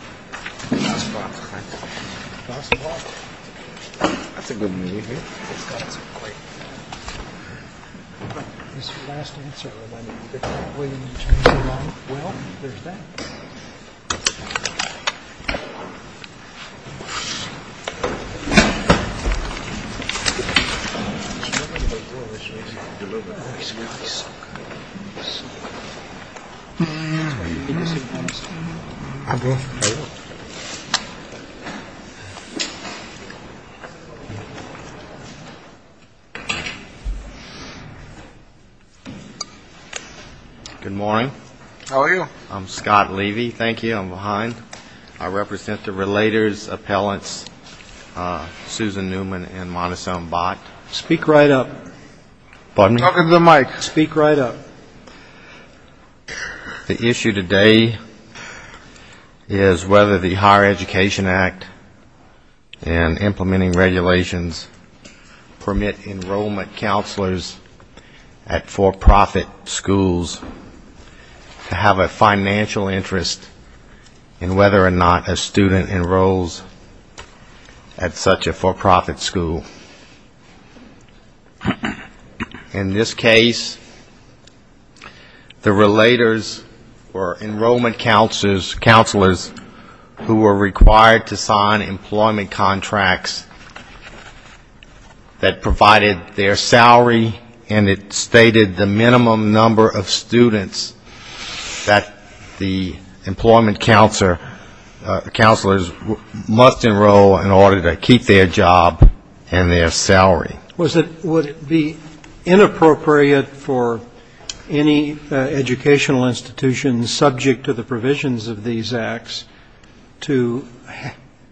Last block. Last block? That's a good move, eh? It's got some weight. His last answer reminded me that when he turns around, well, there's that. He's so good. He's so good. He's so good. Good morning. How are you? I'm Scott Levy. Thank you. I'm behind. I represent the Relators Appellants Susan Newman and Montessone Bott. Speak right up. Welcome to the mic. Speak right up. The issue today is whether the Higher Education Act and implementing regulations permit enrollment counselors at for-profit schools to have a financial interest in whether or not a student enrolls at such a for-profit school. In this case, the Relators were enrollment counselors who were required to sign employment contracts that provided their salary, and it stated the minimum number of students that the employment counselors must enroll in order to keep their job and their salary. Would it be inappropriate for any educational institutions subject to the provisions of these acts to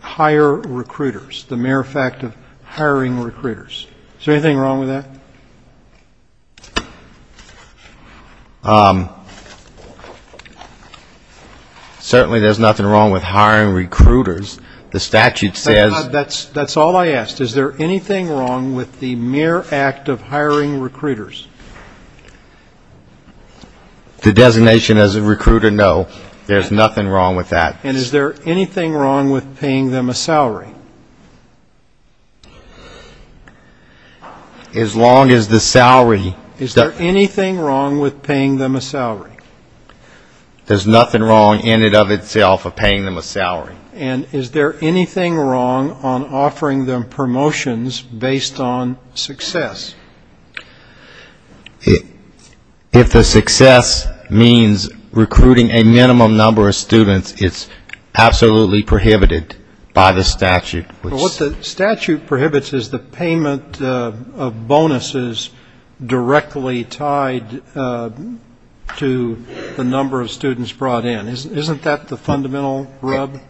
hire recruiters, the mere fact of hiring recruiters? Is there anything wrong with that? Certainly there's nothing wrong with hiring recruiters. The statute says... That's all I asked. Is there anything wrong with the mere act of hiring recruiters? The designation as a recruiter, no. There's nothing wrong with that. And is there anything wrong with paying them a salary? As long as the salary... Is there anything wrong There's nothing wrong in it of itself of paying them a salary. And is there anything wrong on offering them promotions based on success? If the success means recruiting a minimum number of students, it's absolutely prohibited by the statute. What the statute prohibits is the payment of bonuses directly tied to the number of students brought in. Isn't that the fundamental rub?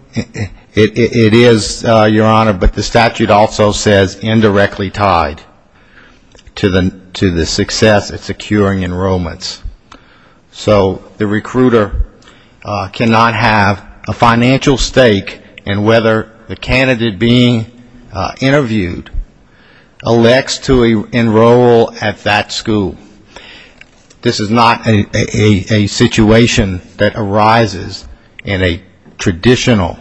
It is, Your Honor, but the statute also says indirectly tied to the success of securing enrollments. So the recruiter cannot have a financial stake in whether the candidate being interviewed elects to enroll at that school. This is not a traditional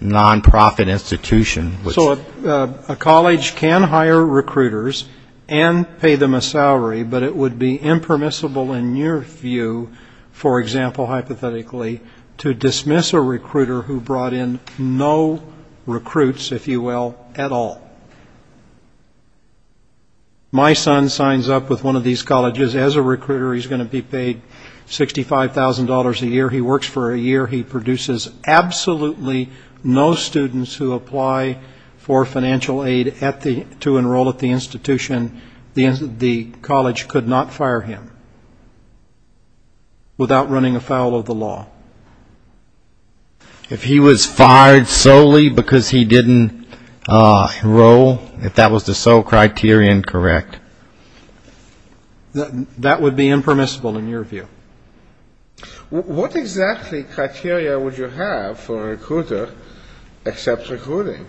non-profit institution. So a college can hire recruiters and pay them a salary, but it would be impermissible in your view, for example hypothetically, to dismiss a recruiter who brought in no recruits, if you will, at all. My son signs up with one of these colleges as a recruiter. He's going to be paid $65,000 a year. He works for a year. He produces absolutely no students who apply for financial aid to enroll at the institution. The college could not fire him without running afoul of the law. If he was fired solely because he didn't enroll, if that was the sole criterion, correct. That would be impermissible in your view. What exactly criteria would you have for a recruiter except recruiting?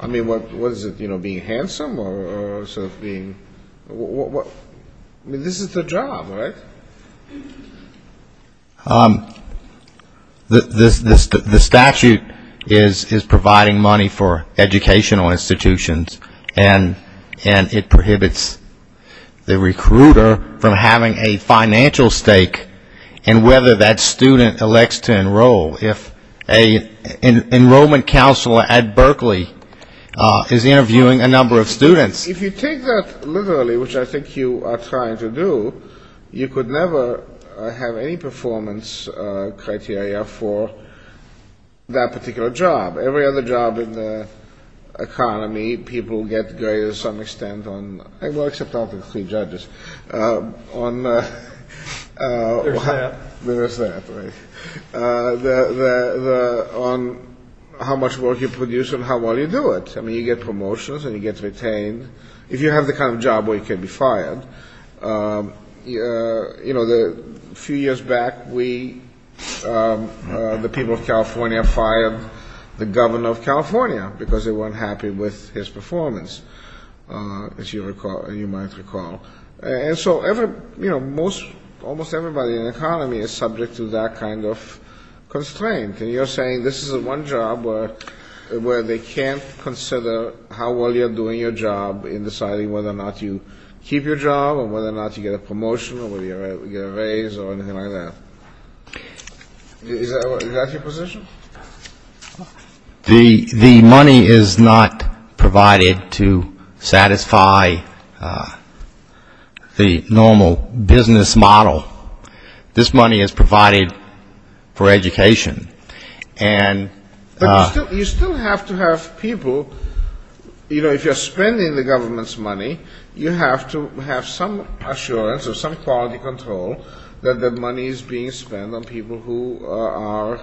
I mean, what is it, you know, being handsome or sort of being what? I mean, this is the job, right? The statute is providing money for educational institutions and it prohibits the recruiter from having a financial stake in whether that student elects to enroll. If an enrollment counselor at Berkeley is interviewing a number of students. If you take that literally, which I think you are trying to do, you could never have any performance criteria for that particular job. Every other job in the economy, people get graded to some extent on well, except out of the three judges, on There's that. There's that, right. On how much work you produce and how well you do it. I mean, you get promotions and you get retained. If you have the kind of job where you can be fired, you know, a few years back we, the people of California, fired the governor of California because they weren't happy with his performance, as you might recall. And so almost everybody in the economy is subject to that kind of constraint. And you're saying this is the one job where they can't consider how well you're doing your job in deciding whether or not you keep your job or whether or not you get a promotion or whether you get a raise or anything like that. Is that your position? The money is not provided to satisfy the normal business model. This money is provided for education. And But you still have to have people you know, if you're spending the government's money, you have to have some assurance or some quality control that that money is being spent on people who are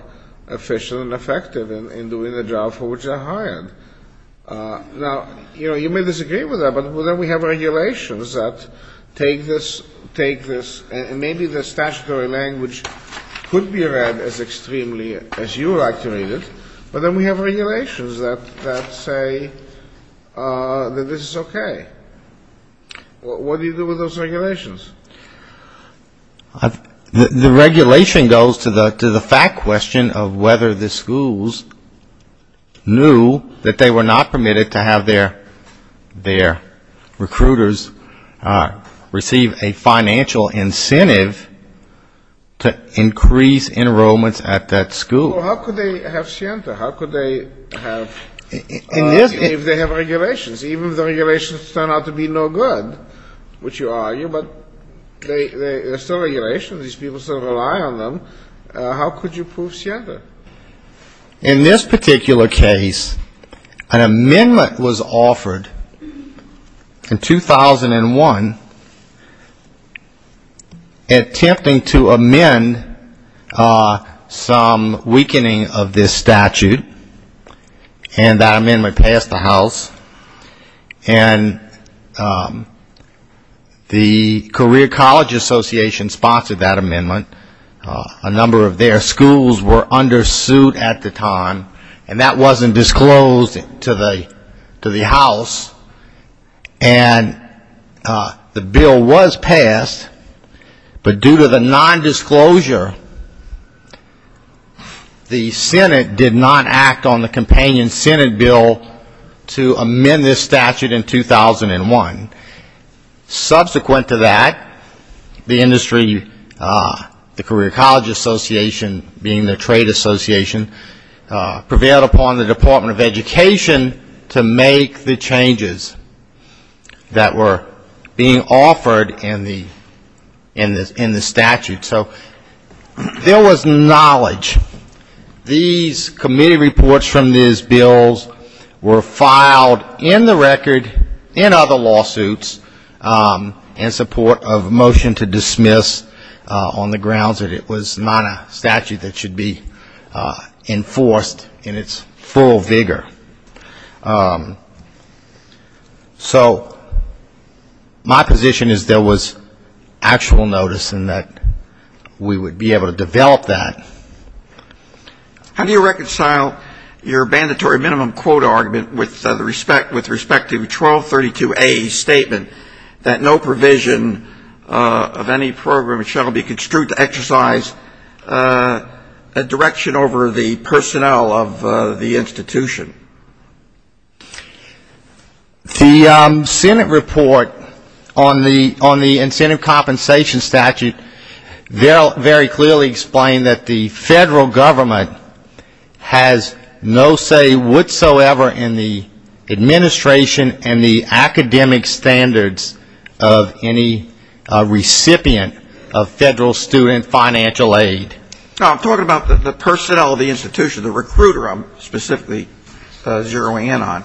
efficient and effective in doing the job for which they're hired. Now, you may disagree with that, but then we have regulations that take this and maybe the statutory language could be read as extremely as you like to read it, but then we have regulations that say that this is okay. What do you do with those regulations? The regulation goes to the fact question of whether the schools knew that they were not permitted to have their their recruiters receive a financial incentive to increase enrollments at that school. Well, how could they have SIENTA? How could they have if they have regulations? Even if the regulations turn out to be no good, which you argue, but they're still regulations. These people still rely on them. How could you prove SIENTA? In this particular case, an amendment was offered in 2001 attempting to amend some weakening of this statute and that amendment passed the House and the Career College Association sponsored that amendment. A number of their schools were under suit at the time and that wasn't disclosed to the House and the bill was passed but due to the non-disclosure the Senate did not act on the companion Senate bill to amend this statute in 2001. Subsequent to that the industry the Career College Association being the Trade Association prevailed upon the Department of Education to make the changes that were being offered in the statute. There was knowledge these committee reports from these bills were filed in the record in other lawsuits in support of a motion to dismiss on the grounds that it was not a statute that should be enforced in its full vigor. So my position is there was actual notice in that we would be able to develop that. How do you reconcile your mandatory minimum quota argument with respect to 1232A statement that no provision of any program shall be construed to exercise a direction over the personnel of the institution? The Senate report on the incentive compensation statute very clearly explained that the Federal Government has no say whatsoever in the administration and the academic standards of any recipient of Federal Student Financial Aid. I'm talking about the personnel of the institution the recruiter I'm specifically zeroing in on.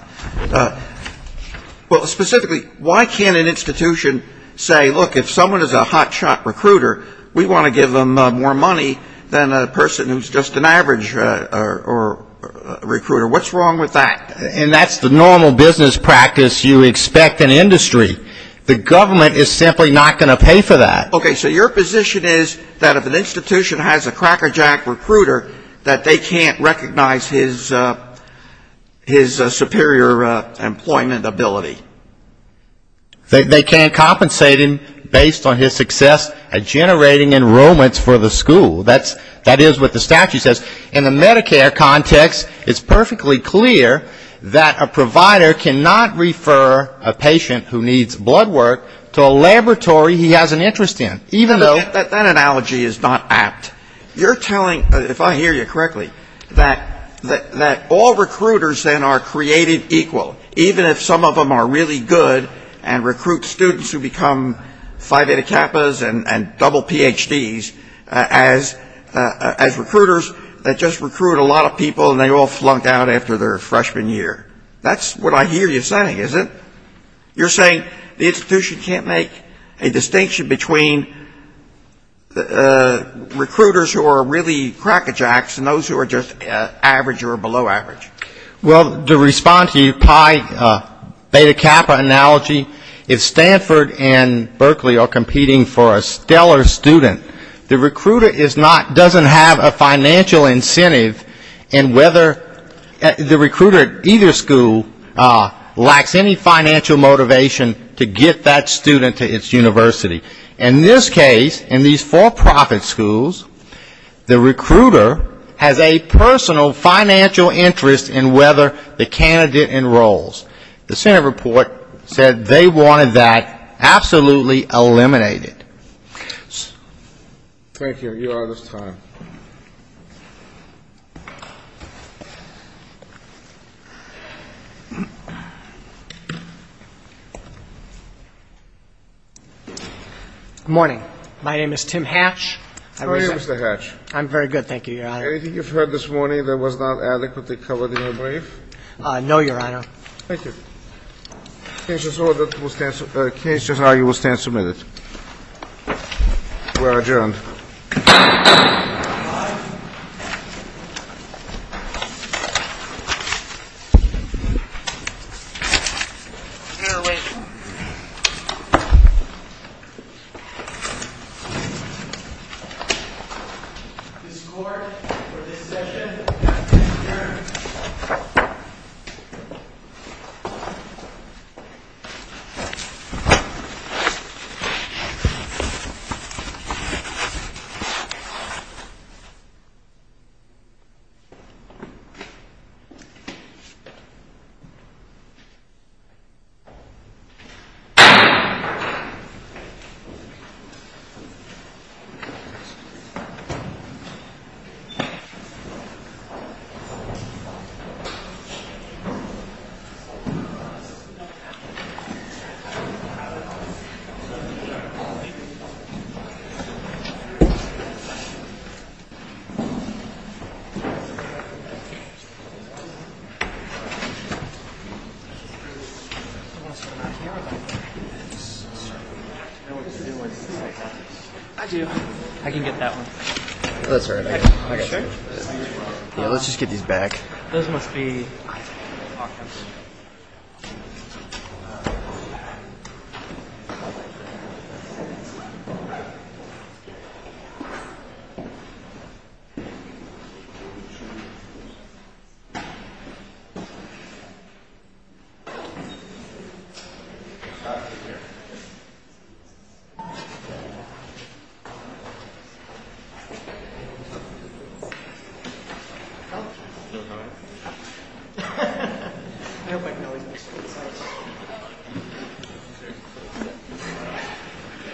Specifically why can't an institution say look if someone is a hot shot recruiter we want to give them more money than a person who is just an average recruiter. What's wrong with that? And that's the normal business practice you expect in industry. The government is simply not going to pay for that. Okay so your position is that if an institution has a crackerjack recruiter that they can't recognize his superior employment ability. They can't compensate him based on his success at generating enrollments for the institution. In the Medicare context it's perfectly clear that a provider cannot refer a patient who needs blood work to a laboratory he has an interest in. That analogy is not apt. You're telling, if I hear you correctly, that all recruiters then are created equal even if some of them are really good and recruit students who become Phi Beta Kappas and double PhDs as recruiters that just recruit a lot of people and they all flunk out after their freshman year. That's what I hear you saying isn't it? You're saying the institution can't make a distinction between recruiters who are really crackerjacks and those who are just average or below average. Well to respond to your Phi Beta Kappa analogy, if Stanford and Berkeley are competing for a dollar student, the recruiter doesn't have a financial incentive in whether the recruiter at either school lacks any financial motivation to get that student to its university. In this case, in these for-profit schools, the recruiter has a personal financial interest in whether the candidate enrolls. The Senate report said they wanted that absolutely eliminated. Thank you. Your Honor's time. Good morning. My name is Tim Hatch. How are you Mr. Hatch? I'm very good, thank you, Your Honor. Anything you've heard this morning that was not adequately covered in your brief? No, Your Honor. Thank you. The case just now, you will stand submitted. You are adjourned. This court for this session adjourns. I do. I can get that one. Let's just get these back. Those must be pockets. I hope I can always make sure it's out.